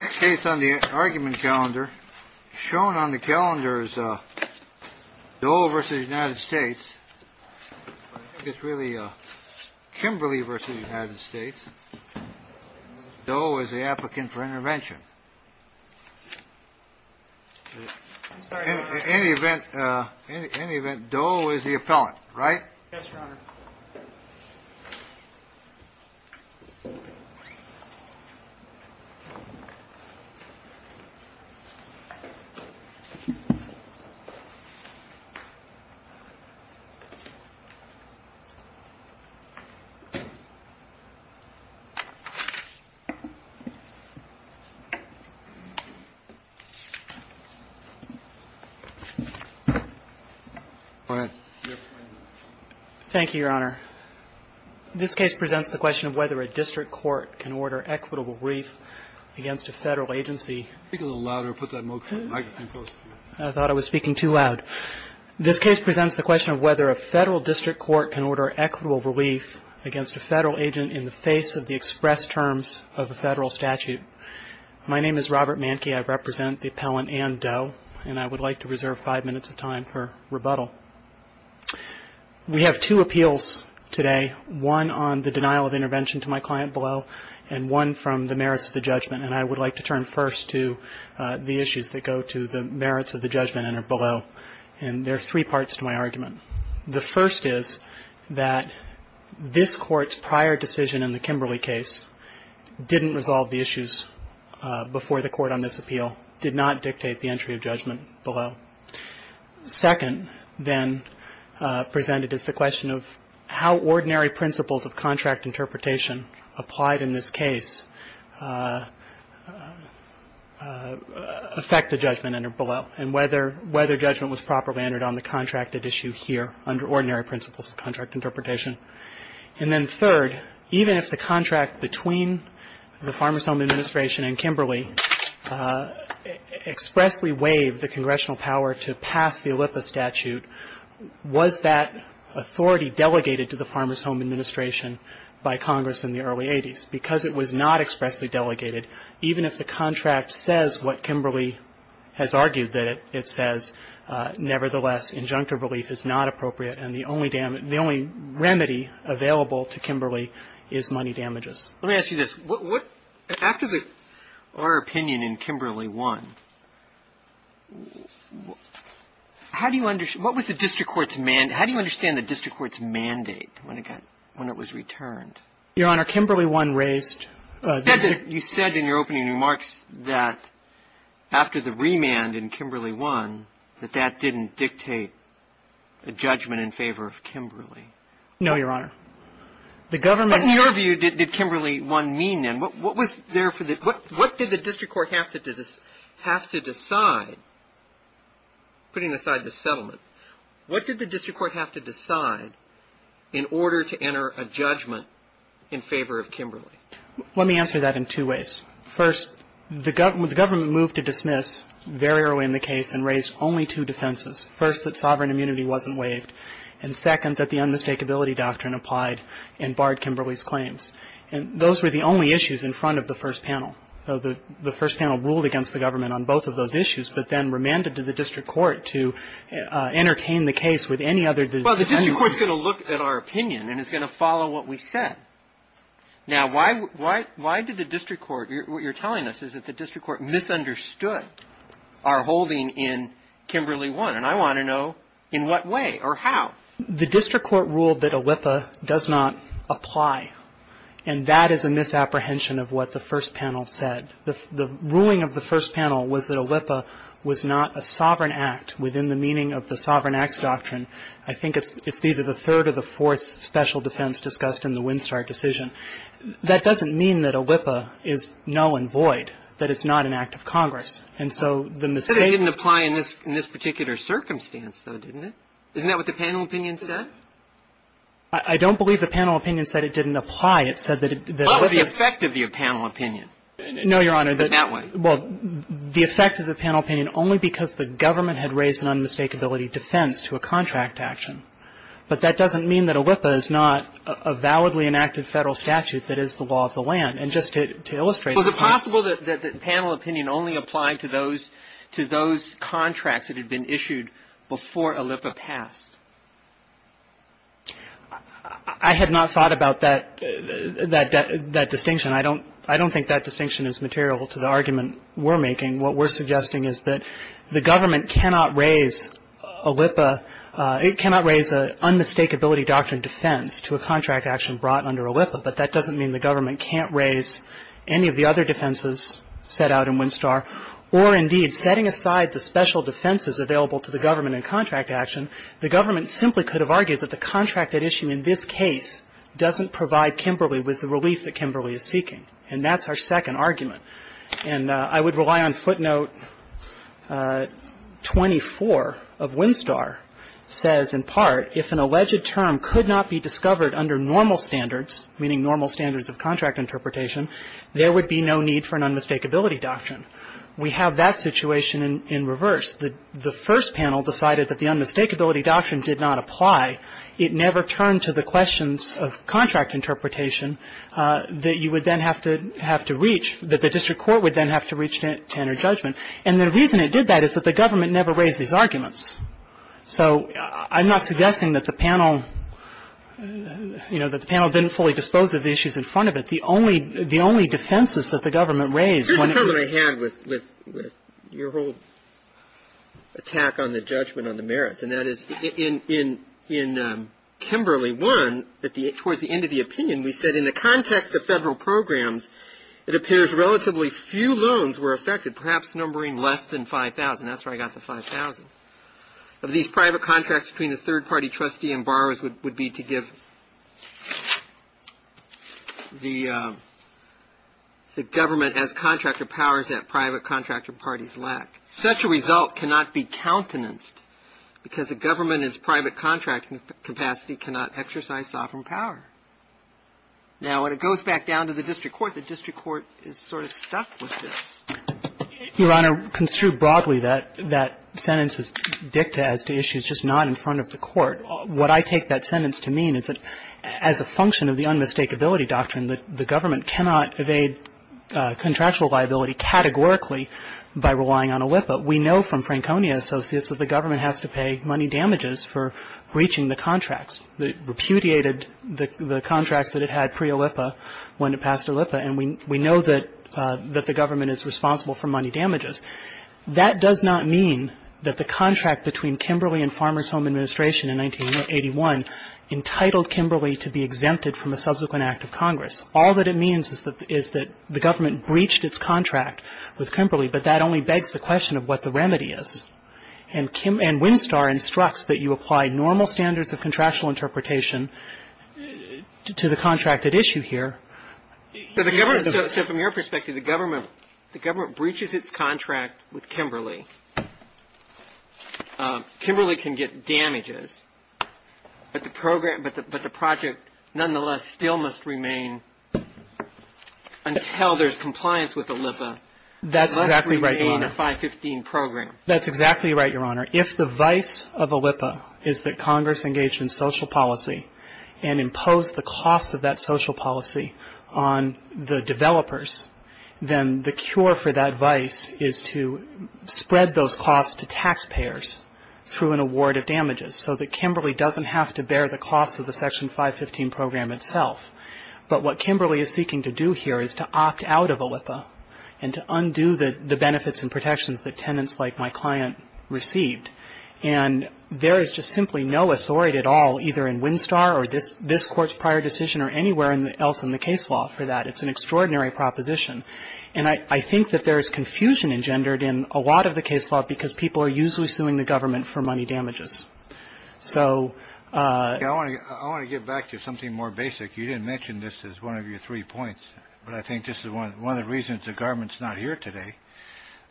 case on the argument calendar, shown on the calendar is Doe v. United States, it's really Kimberly v. United States. Doe is the applicant for intervention. In any event, Doe is the applicant for intervention. In any event, Doe is the applicant for intervention. Robert Manky, I represent the appellant Ann Doe, and I would like to reserve five minutes of time for rebuttal. We have two appeals today, one on the denial of intervention to my client below, and one from the merits of the judgment. And I would like to turn first to the issues that go to the merits of the judgment and are below. And there are three parts to my argument. The first is that this Court's prior decision in the Kimberly case didn't resolve the issues before the Court on this appeal, did not dictate the entry of judgment below. Second, then, presented is the question of how ordinary principles of contract interpretation applied in this case affect the judgment under below, and whether judgment was properly entered on the contracted issue here under ordinary principles of contract interpretation. And then third, even if the contract between the Farmer's Home Administration and Kimberly expressly waived the congressional power to pass the Olympic statute, was that authority delegated to the Farmer's Home Administration by Congress in the early 80s? Because it was not expressly delegated, even if the contract says what Kimberly has argued that it says, nevertheless, injunctive relief is not appropriate, and the only remedy available to Kimberly is money damages. Let me ask you this. After our opinion in Kimberly 1, what was the district court's mandate? How do you understand the district court's mandate when it was returned? Your Honor, Kimberly 1 raised the ---- That that didn't dictate a judgment in favor of Kimberly. No, Your Honor. The government ---- But in your view, did Kimberly 1 mean then, what was there for the ---- What did the district court have to decide, putting aside the settlement, what did the district court have to decide in order to enter a judgment in favor of Kimberly? Let me answer that in two ways. First, the government moved to dismiss very early in the case and raised only two defenses. First, that sovereign immunity wasn't waived. And second, that the unmistakability doctrine applied and barred Kimberly's claims. And those were the only issues in front of the first panel. The first panel ruled against the government on both of those issues, but then remanded to the district court to entertain the case with any other ---- Well, the district court is going to look at our opinion and is going to follow what we said. Now, why did the district court ---- What you're telling us is that the district court misunderstood our holding in Kimberly 1. And I want to know in what way or how. The district court ruled that ALIPA does not apply. And that is a misapprehension of what the first panel said. The ruling of the first panel was that ALIPA was not a sovereign act within the meaning of the sovereign acts doctrine. I think it's either the third or the fourth special defense discussed in the Winstar decision. That doesn't mean that ALIPA is null and void, that it's not an act of Congress. And so the mistake ---- But it didn't apply in this particular circumstance, though, didn't it? Isn't that what the panel opinion said? I don't believe the panel opinion said it didn't apply. It said that ALIPA ---- Well, what's the effect of the panel opinion? No, Your Honor. Put it that way. Well, the effect of the panel opinion, only because the government had raised an unmistakability defense to a contract action. But that doesn't mean that ALIPA is not a validly enacted Federal statute that is the law of the land. And just to illustrate ---- Was it possible that the panel opinion only applied to those ---- to those contracts that had been issued before ALIPA passed? I had not thought about that ---- that distinction. I don't think that distinction is material to the argument we're making. What we're suggesting is that the government cannot raise ALIPA ---- it cannot raise an unmistakability doctrine defense to a contract action brought under ALIPA. But that doesn't mean the government can't raise any of the other defenses set out in Winstar. Or, indeed, setting aside the special defenses available to the government in contract action, the government simply could have argued that the contract at issue in this case doesn't provide Kimberly with the relief that Kimberly is seeking. And that's our second argument. And I would rely on footnote 24 of Winstar, says in part, if an alleged term could not be discovered under normal standards, meaning normal standards of contract interpretation, there would be no need for an unmistakability doctrine. We have that situation in reverse. The first panel decided that the unmistakability doctrine did not apply. It never turned to the questions of contract interpretation that you would then have to reach, that the district court would then have to reach to enter judgment. And the reason it did that is that the government never raised these arguments. So I'm not suggesting that the panel, you know, that the panel didn't fully dispose of the issues in front of it. The only defenses that the government raised when it ---- Your whole attack on the judgment on the merits. And that is in Kimberly 1, towards the end of the opinion, we said, in the context of federal programs, it appears relatively few loans were affected, perhaps numbering less than 5,000. That's where I got the 5,000. Of these private contracts between the third party trustee and borrowers would be to give the government as contractor powers that private contractor parties lack. Such a result cannot be countenanced because a government in its private contracting capacity cannot exercise sovereign power. Now, when it goes back down to the district court, the district court is sort of stuck with this. Your Honor, construed broadly, that sentence is dicta as to issues just not in front of the court. What I take that sentence to mean is that as a function of the unmistakability doctrine, that the government cannot evade contractual liability categorically by relying on OLIPA. We know from Franconia Associates that the government has to pay money damages for breaching the contracts. It repudiated the contracts that it had pre-OLIPA when it passed OLIPA. And we know that the government is responsible for money damages. That does not mean that the contract between Kimberly and Farmers Home Administration in 1981 entitled Kimberly to be exempted from a subsequent act of Congress. All that it means is that the government breached its contract with Kimberly, but that only begs the question of what the remedy is. And Winstar instructs that you apply normal standards of contractual interpretation to the contract at issue here. So the government so from your perspective, the government breaches its contract with Kimberly. Kimberly can get damages, but the project nonetheless still must remain until there's compliance with OLIPA. That's exactly right, Your Honor. It must remain a 515 program. That's exactly right, Your Honor. If the vice of OLIPA is that Congress engaged in social policy and imposed the cost of that social policy on the developers, then the cure for that vice is to spread those costs to taxpayers through an award of damages so that Kimberly doesn't have to bear the costs of the Section 515 program itself. But what Kimberly is seeking to do here is to opt out of OLIPA and to undo the benefits and protections that tenants like my client received. And there is just simply no authority at all either in Winstar or this Court's prior decision or anywhere else in the case law for that. It's an extraordinary proposition. And I think that there is confusion engendered in a lot of the case law because people are usually suing the government for money damages. So — I want to get back to something more basic. You didn't mention this as one of your three points, but I think this is one of the reasons the government's not here today,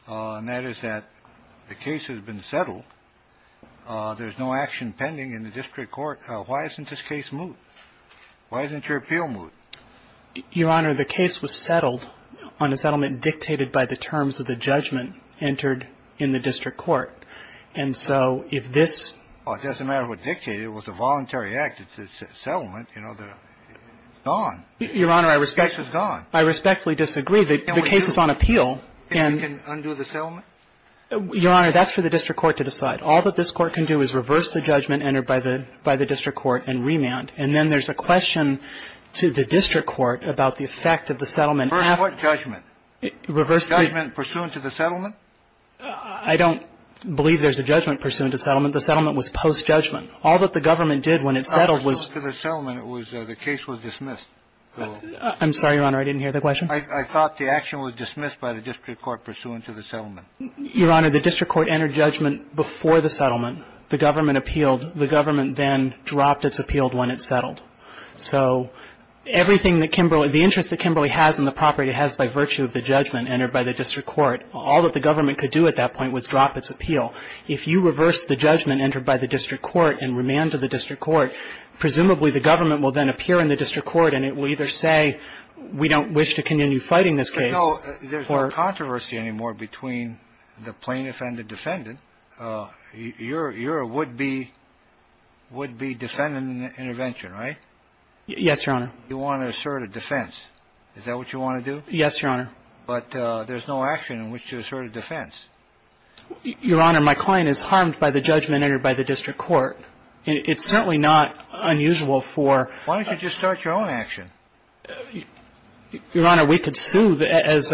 and that is that the case has been settled. There's no action pending in the district court. Why isn't this case moot? Why isn't your appeal moot? Your Honor, the case was settled on a settlement dictated by the terms of the judgment entered in the district court. And so if this — Well, it doesn't matter what dictated. It was a voluntary act. It's a settlement. You know, the — it's gone. Your Honor, I respectfully — The case is gone. I respectfully disagree. The case is on appeal. Can we undo the settlement? Your Honor, that's for the district court to decide. All that this Court can do is reverse the judgment entered by the district court and remand. And then there's a question to the district court about the effect of the settlement. Reverse what judgment? Reverse the — Judgment pursuant to the settlement? I don't believe there's a judgment pursuant to settlement. The settlement was post-judgment. All that the government did when it settled was — I thought pursuant to the settlement, it was — the case was dismissed. I'm sorry, Your Honor. I didn't hear the question. I thought the action was dismissed by the district court pursuant to the settlement. Your Honor, the district court entered judgment before the settlement. The government appealed. So everything that Kimberly — the interest that Kimberly has in the property, it has by virtue of the judgment entered by the district court. All that the government could do at that point was drop its appeal. If you reverse the judgment entered by the district court and remand to the district court, presumably the government will then appear in the district court, and it will either say we don't wish to continue fighting this case or — No, there's no controversy anymore between the plaintiff and the defendant. Your — you're a would-be — would-be defendant in the intervention, right? Yes, Your Honor. You want to assert a defense. Is that what you want to do? Yes, Your Honor. But there's no action in which to assert a defense. Your Honor, my client is harmed by the judgment entered by the district court. It's certainly not unusual for — Why don't you just start your own action? Your Honor, we could sue, as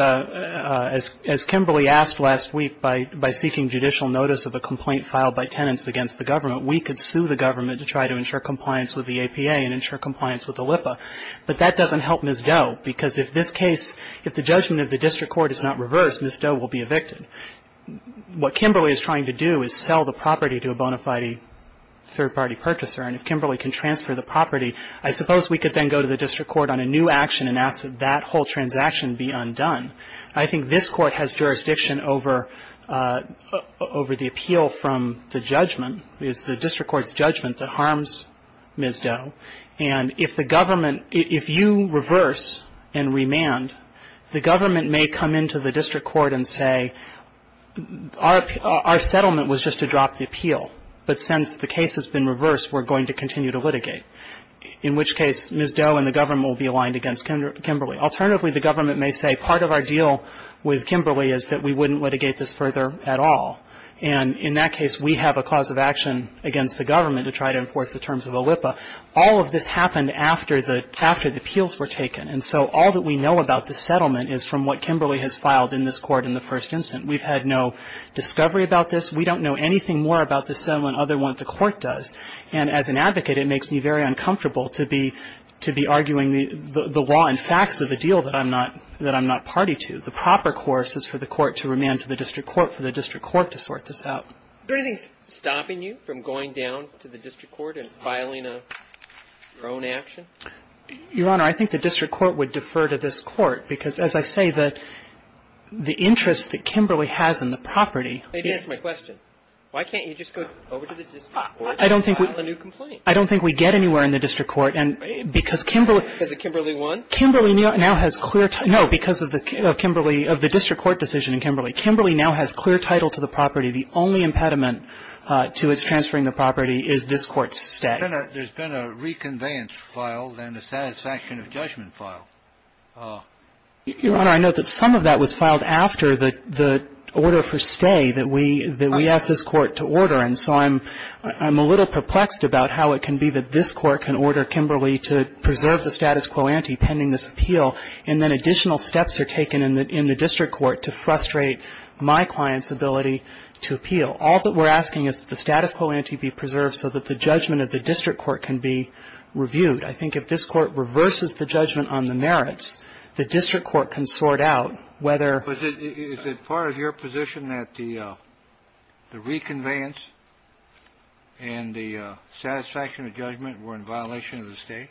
Kimberly asked last week, by seeking judicial notice of a complaint filed by tenants against the government. We could sue the government to try to ensure compliance with the APA and ensure compliance with the LIPA. But that doesn't help Ms. Doe, because if this case — if the judgment of the district court is not reversed, Ms. Doe will be evicted. What Kimberly is trying to do is sell the property to a bona fide third-party purchaser, and if Kimberly can transfer the property, I suppose we could then go to the district court on a new action and ask that that whole transaction be undone. I think this Court has jurisdiction over the appeal from the judgment. It's the district court's judgment that harms Ms. Doe. And if the government — if you reverse and remand, the government may come into the district court and say, our settlement was just to drop the appeal, but since the case has been reversed, we're going to continue to litigate. In which case, Ms. Doe and the government will be aligned against Kimberly. Alternatively, the government may say, part of our deal with Kimberly is that we wouldn't litigate this further at all. And in that case, we have a cause of action against the government to try to enforce the terms of a LIPA. All of this happened after the — after the appeals were taken. And so all that we know about this settlement is from what Kimberly has filed in this Court in the first instance. We've had no discovery about this. We don't know anything more about this settlement other than what the Court does. And as an advocate, it makes me very uncomfortable to be — to be arguing the law and facts of a deal that I'm not — that I'm not party to. The proper course is for the court to remand to the district court, for the district court to sort this out. Is there anything stopping you from going down to the district court and filing your own action? Your Honor, I think the district court would defer to this court, because as I say, the — the interest that Kimberly has in the property — Maybe answer my question. Why can't you just go over to the district court? Why can't you file a new complaint? I don't think we — I don't think we get anywhere in the district court. And because Kimberly — Because of Kimberly 1? Kimberly now has clear — no, because of the — of Kimberly — of the district court decision in Kimberly. Kimberly now has clear title to the property. The only impediment to its transferring the property is this Court's stay. There's been a — there's been a reconveyance filed and a satisfaction of judgment filed. Your Honor, I note that some of that was filed after the — the order for stay that we — that we asked this Court to order. And so I'm — I'm a little perplexed about how it can be that this Court can order Kimberly to preserve the status quo ante pending this appeal, and then additional steps are taken in the district court to frustrate my client's ability to appeal. All that we're asking is that the status quo ante be preserved so that the judgment of the district court can be reviewed. I think if this Court reverses the judgment on the merits, the district court can sort out whether — And the satisfaction of judgment were in violation of the stay?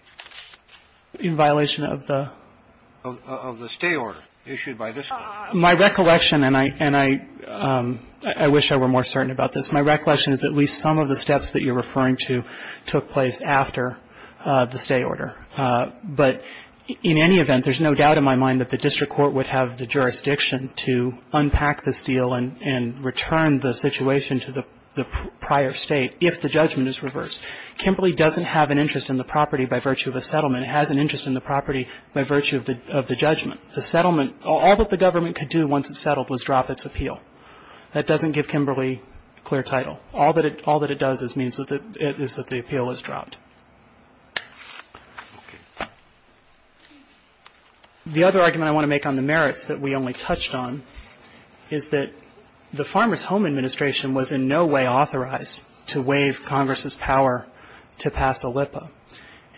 In violation of the — Of the stay order issued by this Court. My recollection, and I — and I — I wish I were more certain about this. My recollection is at least some of the steps that you're referring to took place after the stay order. But in any event, there's no doubt in my mind that the district court would have the jurisdiction to unpack this deal and — and return the situation to the — the prior state if the judgment is reversed. Kimberly doesn't have an interest in the property by virtue of a settlement. It has an interest in the property by virtue of the — of the judgment. The settlement — all that the government could do once it settled was drop its appeal. That doesn't give Kimberly clear title. All that it — all that it does is means that the — is that the appeal is dropped. The other argument I want to make on the merits that we only touched on is that the Farmers Home Administration was in no way authorized to waive Congress's power to pass a LIPA.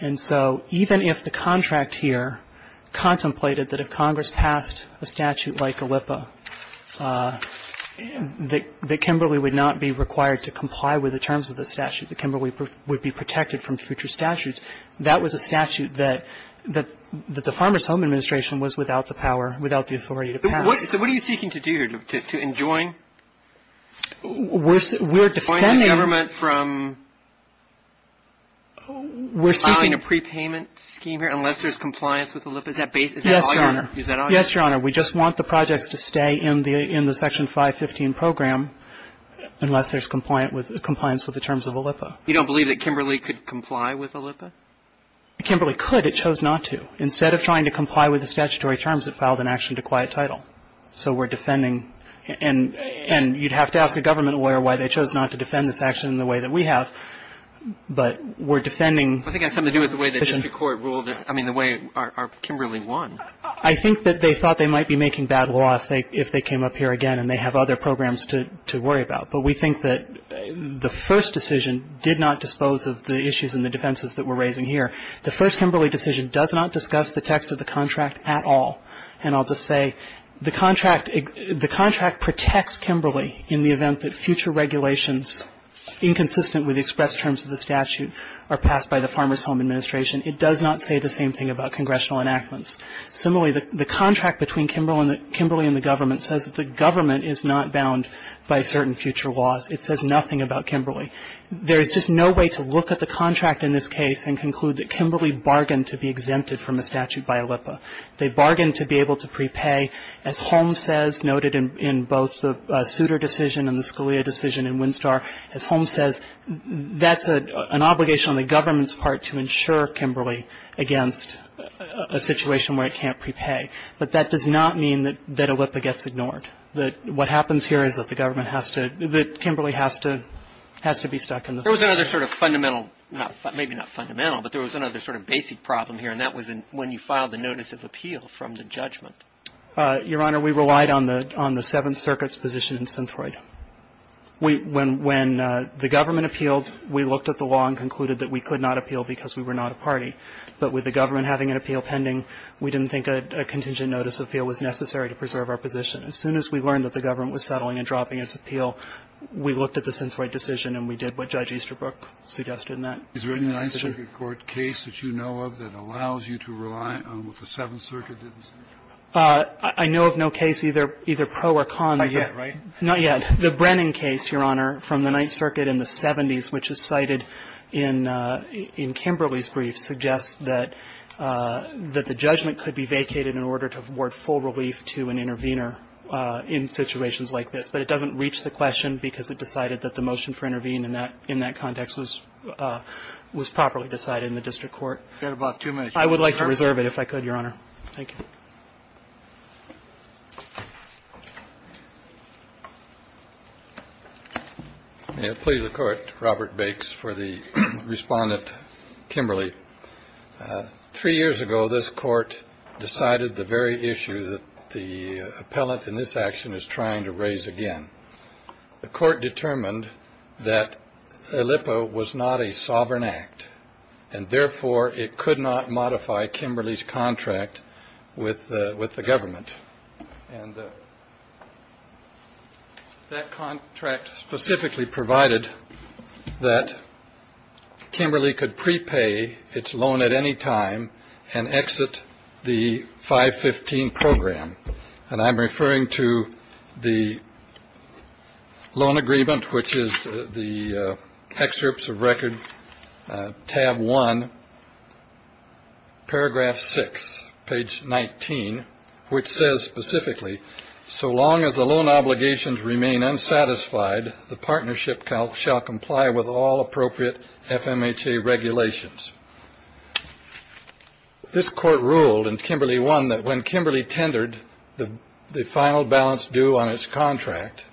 And so even if the contract here contemplated that if Congress passed a statute like a LIPA, that — that Kimberly would not be required to comply with the terms of the statute, that Kimberly would be protected from future statutes. That was a statute that — that the Farmers Home Administration was without the power, without the authority to pass. So what are you seeking to do here? To enjoin? We're — we're defending — Deploying the government from filing a prepayment scheme here unless there's compliance with the LIPA? Is that all you're — Yes, Your Honor. Is that all you're — Yes, Your Honor. We just want the projects to stay in the — in the Section 515 program unless there's compliant with — compliance with the terms of a LIPA. You don't believe that Kimberly could comply with a LIPA? Kimberly could. It chose not to. Instead of trying to comply with the statutory terms, it filed an action to quiet title. So we're defending — and — and you'd have to ask a government lawyer why they chose not to defend this action in the way that we have. But we're defending — I think it has something to do with the way the district court ruled — I mean, the way our — our Kimberly won. I think that they thought they might be making bad law if they — if they came up here again and they have other programs to — to worry about. But we think that the first decision did not dispose of the issues and the defenses that we're raising here. The first Kimberly decision does not discuss the text of the contract at all. And I'll just say, the contract — the contract protects Kimberly in the event that future regulations inconsistent with the expressed terms of the statute are passed by the Farmers Home Administration. It does not say the same thing about congressional enactments. It says that the government is not bound by certain future laws. It says nothing about Kimberly. There is just no way to look at the contract in this case and conclude that Kimberly bargained to be exempted from a statute by ALIPA. They bargained to be able to prepay. As Holmes says, noted in both the Souter decision and the Scalia decision in Winstar, as Holmes says, that's an obligation on the government's part to insure Kimberly against a situation where it can't prepay. But that does not mean that ALIPA gets ignored, that what happens here is that the government has to — that Kimberly has to be stuck in the system. There was another sort of fundamental — maybe not fundamental, but there was another sort of basic problem here, and that was when you filed the notice of appeal from the judgment. Your Honor, we relied on the Seventh Circuit's position in Synthroid. When the government appealed, we looked at the law and concluded that we could not appeal because we were not a party. But with the government having an appeal pending, we didn't think a contingent notice of appeal was necessary to preserve our position. As soon as we learned that the government was settling and dropping its appeal, we looked at the Synthroid decision and we did what Judge Easterbrook suggested in that decision. Kennedy. Is there any Ninth Circuit court case that you know of that allows you to rely on what the Seventh Circuit did? I know of no case either pro or con. Not yet, right? Not yet. The Brennan case, Your Honor, from the Ninth Circuit in the 70s, which is cited in Kimberly's brief, suggests that the judgment could be vacated in order to award full relief to an intervener in situations like this. But it doesn't reach the question because it decided that the motion for intervene in that context was properly decided in the district court. We've got about two minutes. I would like to reserve it, if I could, Your Honor. Thank you. May it please the court. Robert Bakes for the respondent. Kimberly. Three years ago, this court decided the very issue that the appellant in this action is trying to raise again. The court determined that Lippo was not a sovereign act, and therefore it could not modify Kimberly's contract with the government. And that contract specifically provided that Kimberly could prepay its loan at any time and exit the 515 program. And I'm referring to the loan agreement, which is the excerpts of record tab one, paragraph six, page 19, which says specifically, so long as the loan obligations remain unsatisfied, the partnership shall comply with all appropriate FMHA regulations. This court ruled in Kimberly one that when Kimberly tendered the final balance due on its contract,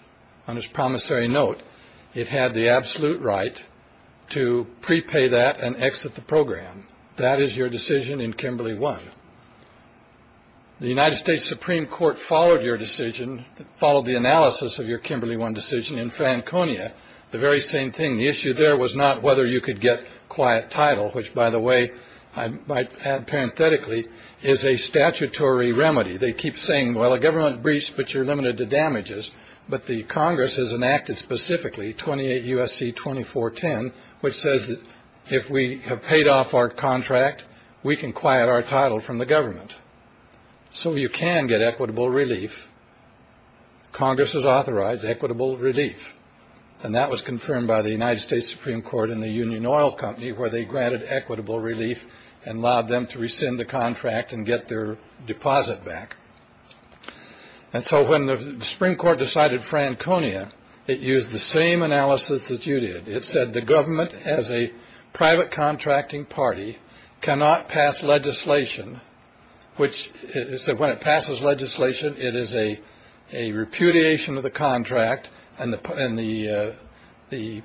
on its promissory note, it had the absolute right to prepay that and exit the program. That is your decision in Kimberly one. The United States Supreme Court followed your decision, followed the analysis of your Kimberly one decision in Franconia. The very same thing. The issue there was not whether you could get quiet title, which, by the way, I might add parenthetically, is a statutory remedy. They keep saying, well, a government breach, but you're limited to damages. But the Congress has enacted specifically 28 U.S.C. 2410, which says that if we have paid off our contract, we can quiet our title from the government. So you can get equitable relief. Congress has authorized equitable relief. And that was confirmed by the United States Supreme Court in the Union Oil Company, where they granted equitable relief and allowed them to rescind the contract and get their deposit back. And so when the Supreme Court decided Franconia, it used the same analysis that you did. It said the government as a private contracting party cannot pass legislation, which it said when it passes legislation, it is a a repudiation of the contract and the and the the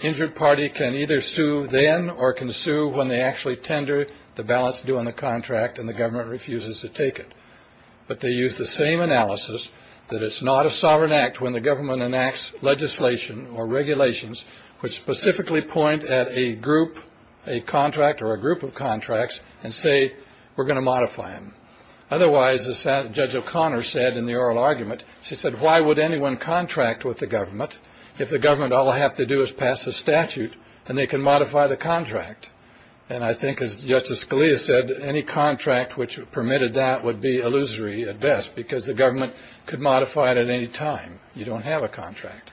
injured party can either sue then or can sue when they actually tender the balance due on the contract and the government refuses to take it. But they use the same analysis that it's not a sovereign act when the government enacts legislation or regulations, which specifically point at a group, a contract or a group of contracts and say, we're going to modify them. Otherwise, as Judge O'Connor said in the oral argument, she said, why would anyone contract with the government if the government all I have to do is pass a statute and they can modify the contract? And I think, as Justice Scalia said, any contract which permitted that would be illusory at best, because the government could modify it at any time. You don't have a contract.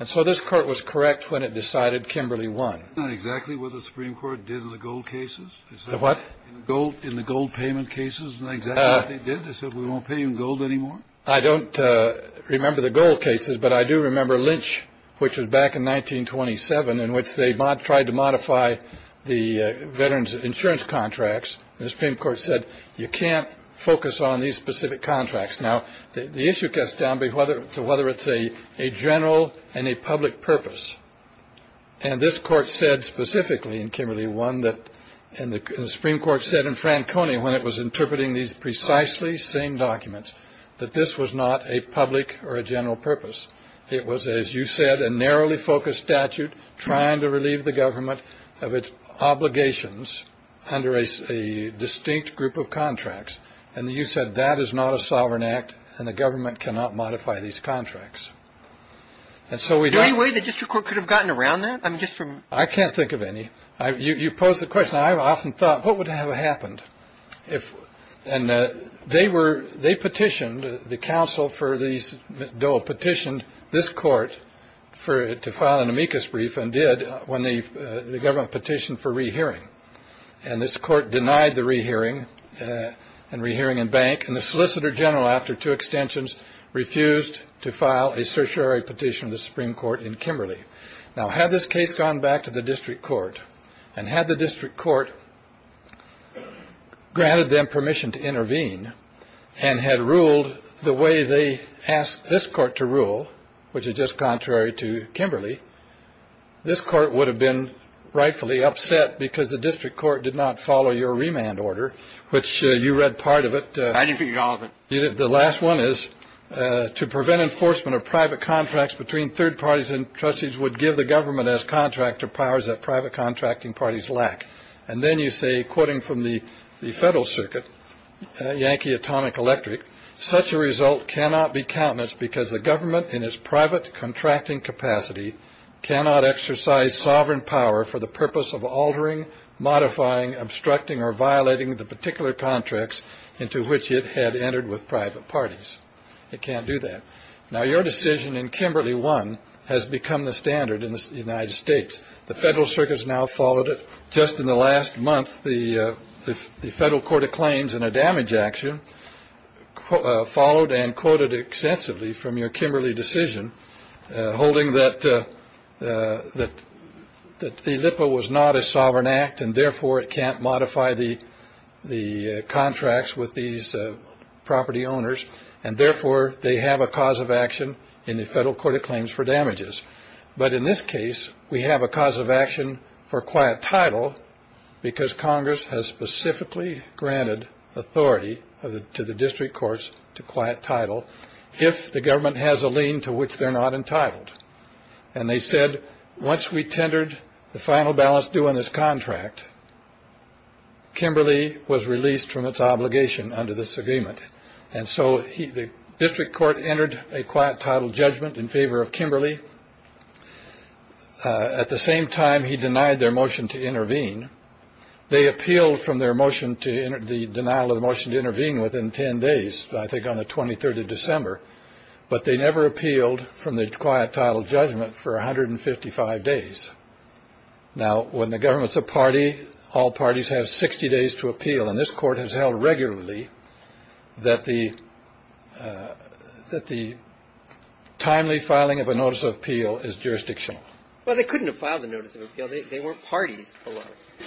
And so this court was correct when it decided Kimberly won. Not exactly what the Supreme Court did in the gold cases. What gold in the gold payment cases. They said we won't pay in gold anymore. I don't remember the gold cases, but I do remember Lynch, which was back in 1927 in which they tried to modify the veterans insurance contracts. The Supreme Court said you can't focus on these specific contracts. Now, the issue gets down to whether it's a general and a public purpose. And this Court said specifically in Kimberly won that and the Supreme Court said in Franconi when it was interpreting these precisely same documents that this was not a public or a general purpose. It was, as you said, a narrowly focused statute trying to relieve the government of its obligations under a distinct group of contracts. And you said that is not a sovereign act and the government cannot modify these contracts. And so we do anyway. The district court could have gotten around that. I'm just from I can't think of any. You pose the question. I've often thought, what would have happened if. And they were they petitioned the council for these. Dole petitioned this court for it to file an amicus brief and did when the government petitioned for rehearing. And this court denied the rehearing and rehearing and bank. And the solicitor general, after two extensions, refused to file a certiorari petition of the Supreme Court in Kimberly. Now, had this case gone back to the district court and had the district court granted them permission to intervene and had ruled the way they asked this court to rule, which is just contrary to Kimberly, this court would have been rightfully upset because the district court did not follow your remand order, which you read part of it. The last one is to prevent enforcement of private contracts between third parties. And trustees would give the government as contractor powers that private contracting parties lack. And then you say, quoting from the federal circuit, Yankee Atomic Electric, such a result cannot be countenance because the government in its private contracting capacity cannot exercise sovereign power for the purpose of altering, modifying, obstructing or violating the particular contracts into which it had entered with private parties. It can't do that. Now, your decision in Kimberly one has become the standard in the United States. The federal circus now followed it just in the last month. The federal court of claims and a damage action followed and quoted extensively from your Kimberly decision, holding that that that the Lippa was not a sovereign act and therefore it can't modify the the contracts with these property owners. And therefore they have a cause of action in the federal court of claims for damages. But in this case, we have a cause of action for quiet title because Congress has specifically granted authority to the district courts to quiet title. If the government has a lien to which they're not entitled. And they said, once we tendered the final balance due on this contract. Kimberly was released from its obligation under this agreement. And so the district court entered a quiet title judgment in favor of Kimberly. At the same time, he denied their motion to intervene. They appealed from their motion to enter the denial of the motion to intervene within 10 days. I think on the 23rd of December. But they never appealed from the quiet title judgment for one hundred and fifty five days. Now, when the government's a party, all parties have 60 days to appeal. And this Court has held regularly that the that the timely filing of a notice of appeal is jurisdictional. Well, they couldn't have filed a notice of appeal. They weren't parties.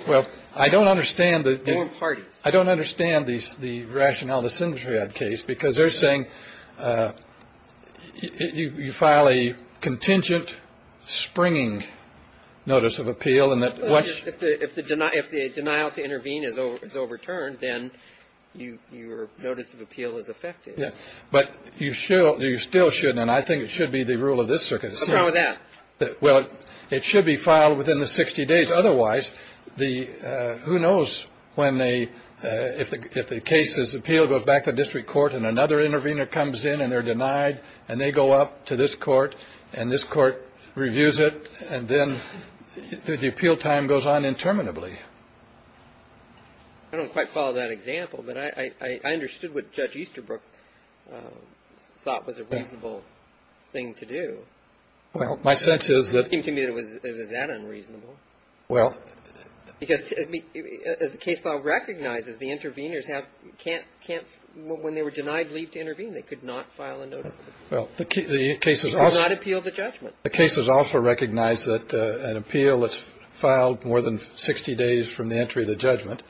Well, I don't understand that. They weren't parties. I don't understand these, the rationale, the Sintrad case, because they're saying you file a contingent springing notice of appeal and that. If the denial to intervene is overturned, then your notice of appeal is affected. But you still shouldn't. And I think it should be the rule of this circuit. What's wrong with that? Well, it should be filed within the 60 days. Otherwise, the who knows when they if the if the case is appealed, goes back to district court and another intervener comes in and they're denied and they go up to this court and this court reviews it. And then the appeal time goes on interminably. I don't quite follow that example, but I understood what Judge Easterbrook thought was a reasonable thing to do. Well, my sense is that. It seemed to me that it was that unreasonable. Well. Because as the case law recognizes, the interveners have can't can't when they were denied leave to intervene, they could not file a notice. Well, the case is also. They could not appeal the judgment. The case is also recognized that an appeal that's filed more than 60 days from the entry of the judgment,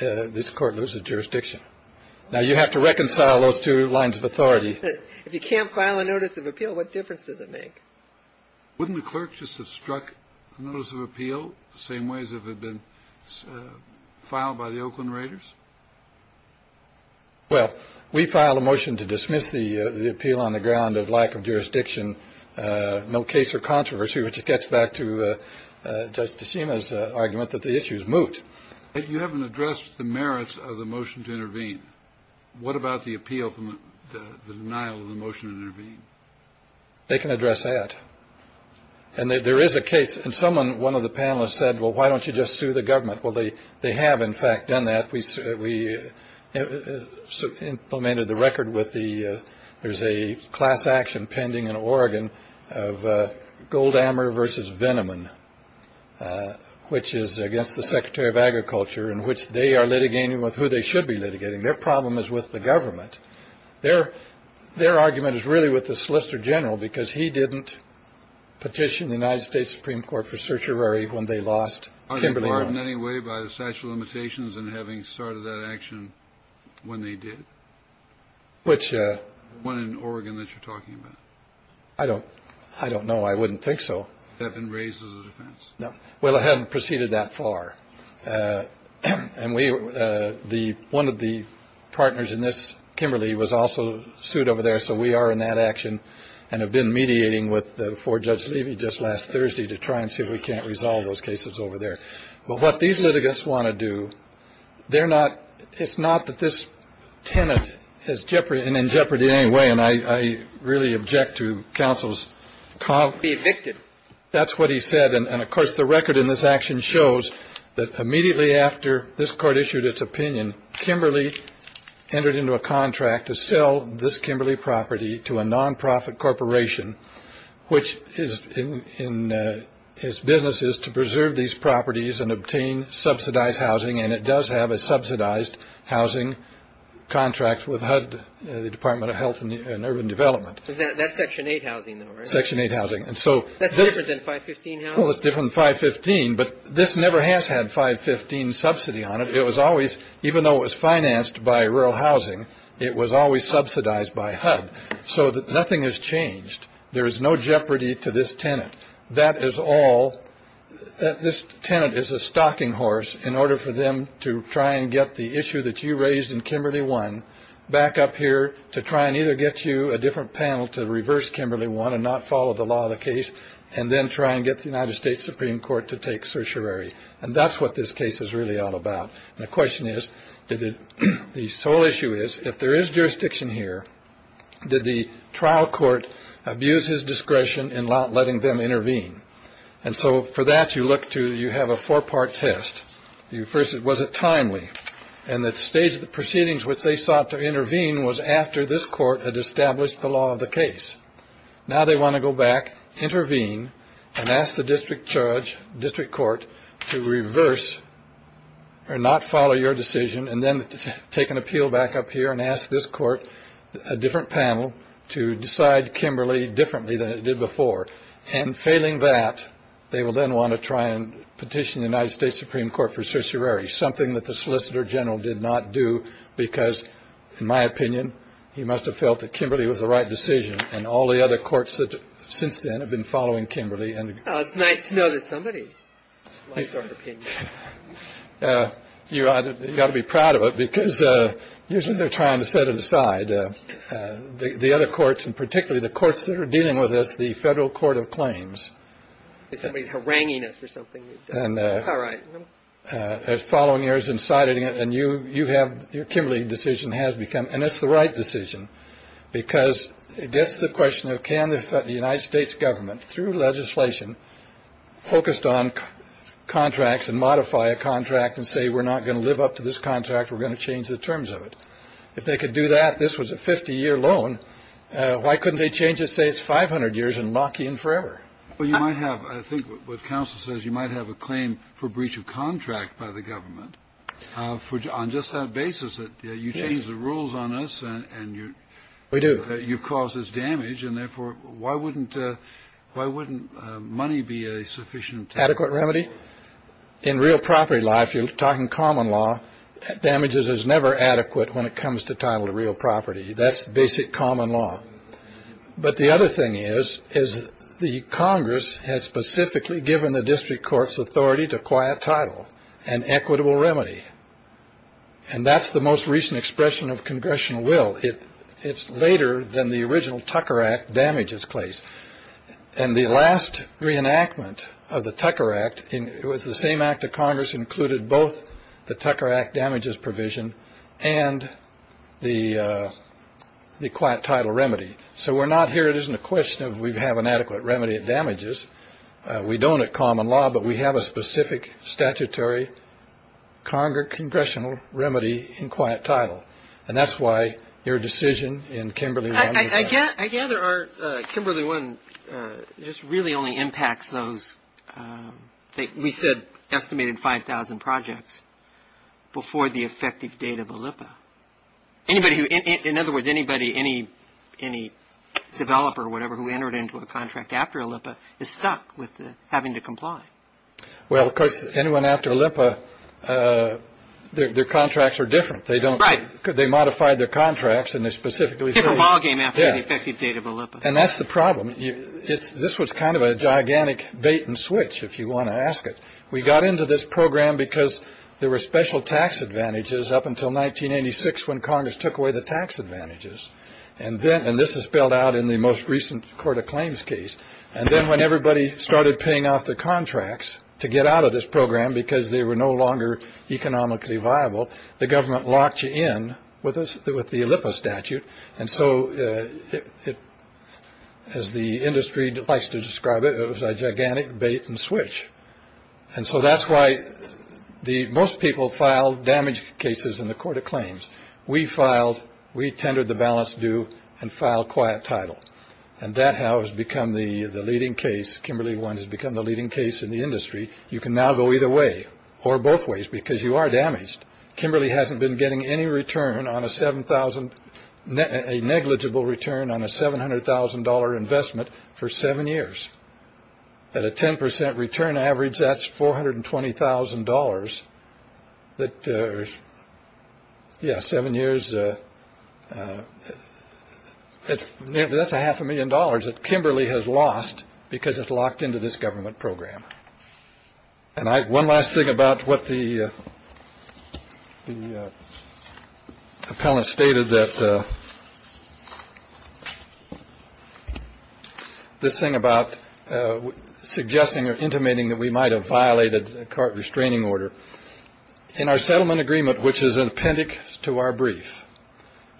this court loses jurisdiction. Now, you have to reconcile those two lines of authority. If you can't file a notice of appeal, what difference does it make? Wouldn't the clerk just have struck a notice of appeal the same way as if it had been filed by the Oakland Raiders? Well, we filed a motion to dismiss the appeal on the ground of lack of jurisdiction. No case for controversy, which gets back to Judge Tashima's argument that the issue is moot. You haven't addressed the merits of the motion to intervene. What about the appeal from the denial of the motion to intervene? They can address that. And there is a case. And someone, one of the panelists said, well, why don't you just sue the government? Well, they they have, in fact, done that. We implemented the record with the there's a class action pending in Oregon of Goldhammer versus Veneman, which is against the secretary of agriculture in which they are litigating with who they should be litigating. Their problem is with the government. Their their argument is really with the solicitor general, because he didn't petition the United States Supreme Court for certiorari when they lost Kimberly. Anyway, by the statute of limitations and having started that action when they did. Which one in Oregon that you're talking about? I don't I don't know. I wouldn't think so. No. Well, I haven't proceeded that far. And we the one of the partners in this Kimberly was also sued over there. So we are in that action and have been mediating with the four Judge Levy just last Thursday to try and see if we can't resolve those cases over there. But what these litigants want to do, they're not. It's not that this tenant has jeopardy and in jeopardy anyway. And I really object to counsel's call. Be evicted. That's what he said. And of course, the record in this action shows that immediately after this court issued its opinion, Kimberly entered into a contract to sell this Kimberly property to a nonprofit corporation, which is in his businesses to preserve these properties and obtain subsidized housing. And it does have a subsidized housing contract with HUD, the Department of Health and Urban Development. That's section eight housing section eight housing. And so that's different than 515. Well, it's different 515. But this never has had 515 subsidy on it. It was always even though it was financed by rural housing, it was always subsidized by HUD. So nothing has changed. There is no jeopardy to this tenant. That is all this tenant is a stocking horse in order for them to try and get the issue that you raised in Kimberly one back up here to try and either get you a different panel to reverse Kimberly one and not follow the law of the case and then try and get the United States Supreme Court to take certiorari. And that's what this case is really all about. The question is, did the sole issue is if there is jurisdiction here, did the trial court abuse his discretion in letting them intervene? And so for that, you look to you have a four part test. You first it was a timely and that stage of the proceedings which they sought to intervene was after this court had established the law of the case. Now they want to go back, intervene and ask the district judge district court to reverse or not follow your decision and then take an appeal back up here and ask this court a different panel to decide Kimberly differently than it did before. And failing that, they will then want to try and petition the United States Supreme Court for certiorari, something that the solicitor general did not do because, in my opinion, he must have felt that Kimberly was the right decision. And all the other courts that since then have been following Kimberly. And it's nice to know that somebody. You got to be proud of it because usually they're trying to set it aside. The other courts and particularly the courts that are dealing with this, the Federal Court of Claims. Somebody's haranguing us for something. And all right. Following yours and citing it and you you have your Kimberly decision has become. And it's the right decision because it gets the question of can the United States government through legislation focused on contracts and modify a contract and say we're not going to live up to this contract. We're going to change the terms of it. If they could do that, this was a 50 year loan. Why couldn't they change it? Say it's 500 years and lock in forever. Well, you might have. I think what counsel says you might have a claim for breach of contract by the government for on just that basis that you change the rules on us. And you we do. You've caused this damage. And therefore, why wouldn't why wouldn't money be a sufficient adequate remedy in real property life? You're talking common law damages is never adequate when it comes to title to real property. That's basic common law. But the other thing is, is the Congress has specifically given the district court's authority to quiet title and equitable remedy. And that's the most recent expression of congressional will. It it's later than the original Tucker Act damages place. And the last reenactment of the Tucker Act, it was the same act of Congress included both the Tucker Act damages provision and the the quiet title remedy. So we're not here. It isn't a question of we have an adequate remedy of damages. We don't have common law, but we have a specific statutory Congress congressional remedy in quiet title. And that's why your decision in Kimberly. I guess I gather Kimberly one just really only impacts those. We said estimated five thousand projects before the effective date of a Lippa. Anybody who in other words, anybody, any any developer or whatever, who entered into a contract after a Lippa is stuck with having to comply. Well, of course, anyone after Lippa, their contracts are different. They don't write. Could they modify their contracts? And they're specifically a ballgame. After the effective date of a Lippa. And that's the problem. It's this was kind of a gigantic bait and switch, if you want to ask it. We got into this program because there were special tax advantages up until 1986 when Congress took away the tax advantages. And then and this is spelled out in the most recent court of claims case. And then when everybody started paying off the contracts to get out of this program because they were no longer economically viable, the government locked you in with us with the Lippa statute. And so it has the industry that likes to describe it as a gigantic bait and switch. And so that's why the most people file damage cases in the court of claims. We filed. We tendered the balance due and file quiet title. And that has become the leading case. Kimberly one has become the leading case in the industry. You can now go either way or both ways because you are damaged. Kimberly hasn't been getting any return on a seven thousand a negligible return on a seven hundred thousand dollar investment for seven years. At a 10 percent return average, that's four hundred and twenty thousand dollars that. Yes. Seven years. That's a half a million dollars that Kimberly has lost because it's locked into this government program. And one last thing about what the appellant stated that. This thing about suggesting or intimating that we might have violated a court restraining order in our settlement agreement, which is an appendix to our brief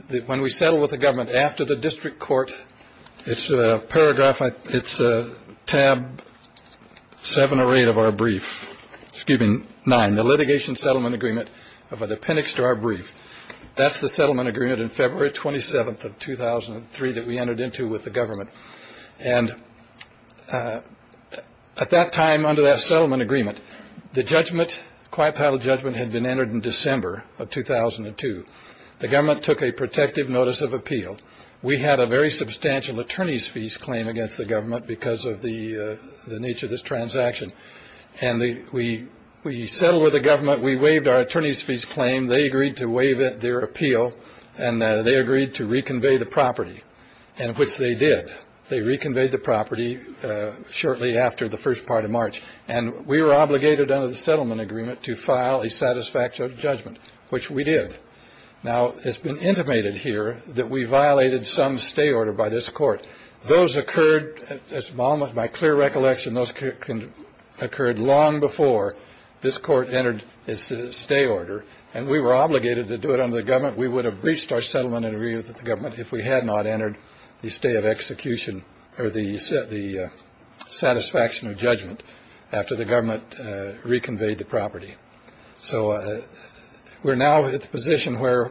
that when we settle with the government after the district court, it's a paragraph. It's a tab seven or eight of our brief giving nine the litigation settlement agreement of the appendix to our brief. That's the settlement agreement in February 27th of 2003 that we entered into with the government. And at that time, under that settlement agreement, the judgment quiet title judgment had been entered in December of 2002. The government took a protective notice of appeal. We had a very substantial attorney's fees claim against the government because of the nature of this transaction. And we we settled with the government. We waived our attorney's fees claim. They agreed to waive their appeal and they agreed to reconvey the property and which they did. They reconveyed the property shortly after the first part of March. And we were obligated under the settlement agreement to file a satisfactory judgment, which we did. Now, it's been intimated here that we violated some stay order by this court. Those occurred at this moment by clear recollection. Those can occurred long before this court entered its stay order and we were obligated to do it under the government. We would have breached our settlement agreement with the government if we had not entered the stay of execution or the set, the satisfaction of judgment after the government reconveyed the property. So we're now at the position where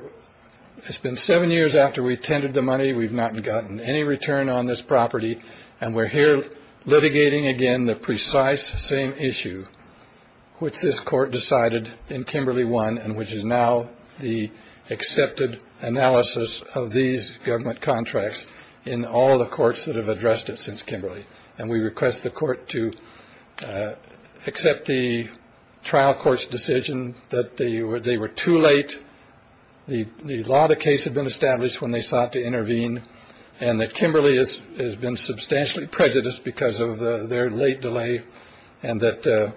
it's been seven years after we tended the money. We've not gotten any return on this property. And we're here litigating again the precise same issue which this court decided in Kimberly one, and which is now the accepted analysis of these government contracts in all the courts that have addressed it since Kimberly. And we request the court to accept the trial court's decision that they were too late. The law of the case had been established when they sought to intervene, and that Kimberly has been substantially prejudiced because of their late delay, and that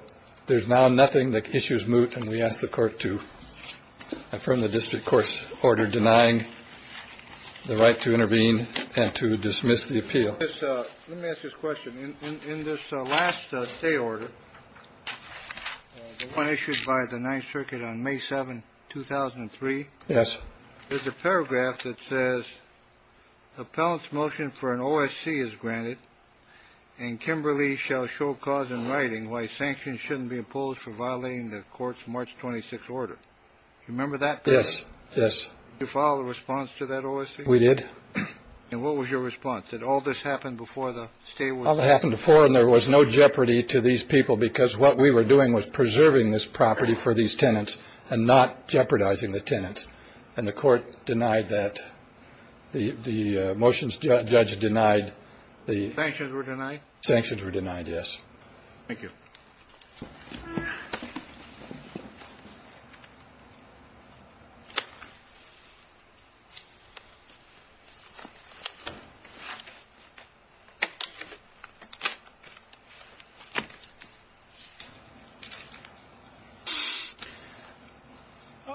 there's now nothing that issues moot. And we ask the court to affirm the district court's order denying the right to intervene and to dismiss the appeal. So let me ask this question. In this last day order issued by the Ninth Circuit on May 7, 2003. Yes. There's a paragraph that says Appellant's motion for an OSC is granted. And Kimberly shall show cause in writing why sanctions shouldn't be imposed for violating the court's March 26 order. Remember that? Yes. Yes. You follow the response to that OSC. We did. And what was your response that all this happened before the state happened before and there was no jeopardy to these people, because what we were doing was preserving this property for these tenants and not jeopardizing the tenants. And the court denied that the motions judge denied the sanctions were denied. Sanctions were denied. Yes. Thank you.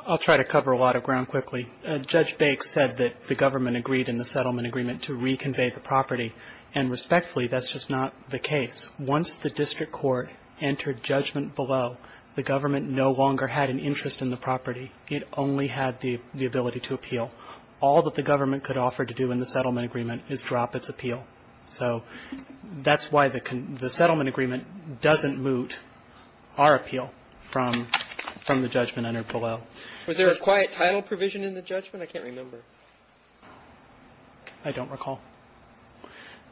I'll try to cover a lot of ground quickly. Judge Bates said that the government agreed in the settlement agreement to reconvey the property. And respectfully, that's just not the case. Once the district court entered judgment below, the government no longer had an interest in the property. It only had the ability to appeal. All that the government could offer to do in the settlement agreement is drop its appeal. So that's why the settlement agreement doesn't moot our appeal from from the judgment under below. Was there a quiet title provision in the judgment? I can't remember. I don't recall.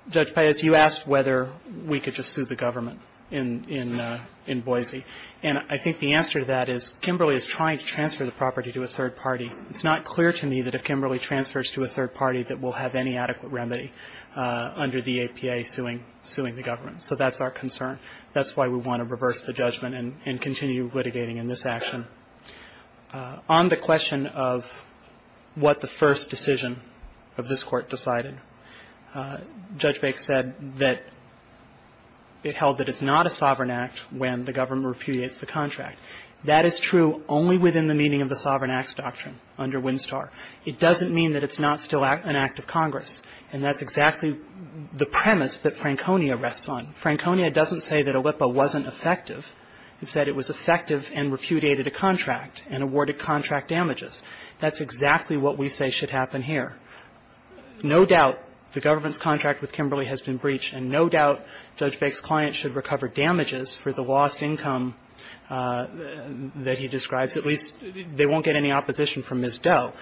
Judge Bates, you asked whether we could just sue the government in Boise. And I think the answer to that is Kimberly is trying to transfer the property to a third party. It's not clear to me that if Kimberly transfers to a third party that we'll have any adequate remedy under the APA suing the government. So that's our concern. That's why we want to reverse the judgment and continue litigating in this action. On the question of what the first decision of this Court decided, Judge Bates said that it held that it's not a sovereign act when the government repudiates the contract. That is true only within the meaning of the Sovereign Acts Doctrine under Winstar. It doesn't mean that it's not still an act of Congress. And that's exactly the premise that Franconia rests on. Franconia doesn't say that a LIPA wasn't effective. It said it was effective and repudiated a contract and awarded contract damages. That's exactly what we say should happen here. No doubt the government's contract with Kimberly has been breached, and no doubt Judge Bates' client should recover damages for the lost income that he describes. At least they won't get any opposition from Ms. Doe.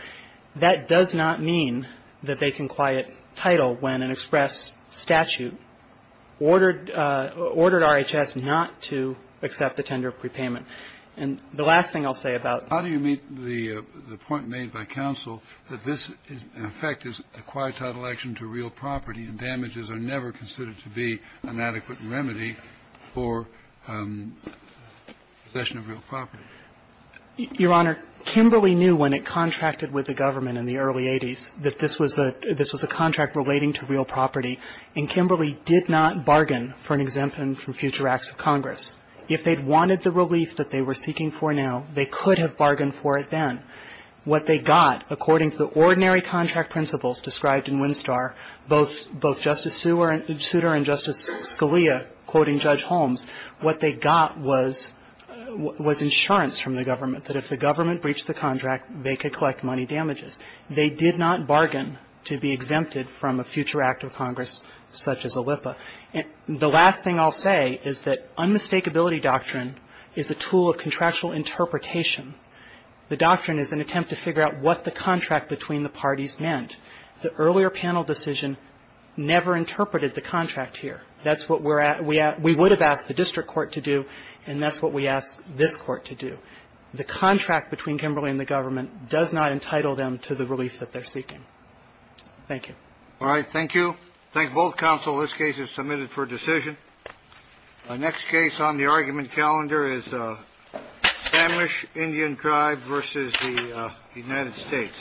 And the last thing I'll say about how do you meet the point made by counsel that this in effect is a quiet title action to real property and damages are never considered to be an adequate remedy for possession of real property? Your Honor, Kimberly knew when it contracted the contract that it was not an adequate remedy for possession of real property. And Kimberly did not bargain for an exemption from future acts of Congress. If they'd wanted the relief that they were seeking for now, they could have bargained for it then. What they got, according to the ordinary contract principles described in Winstar, both Justice Souter and Justice Scalia quoting Judge Holmes, what they got was insurance from the government that if the government breached the contract, they could collect money damages. They did not bargain to be exempted from a future act of Congress such as ALLIPA. And the last thing I'll say is that unmistakability doctrine is a tool of contractual interpretation. The doctrine is an attempt to figure out what the contract between the parties meant. The earlier panel decision never interpreted the contract here. That's what we would have asked the district court to do, and that's what we asked this court to do. The contract between Kimberly and the government does not entitle them to the relief that they're seeking. Thank you. All right. Thank you. Thank both counsel. This case is submitted for decision. Next case on the argument calendar is Spanish Indian tribe versus the United States. Thank you.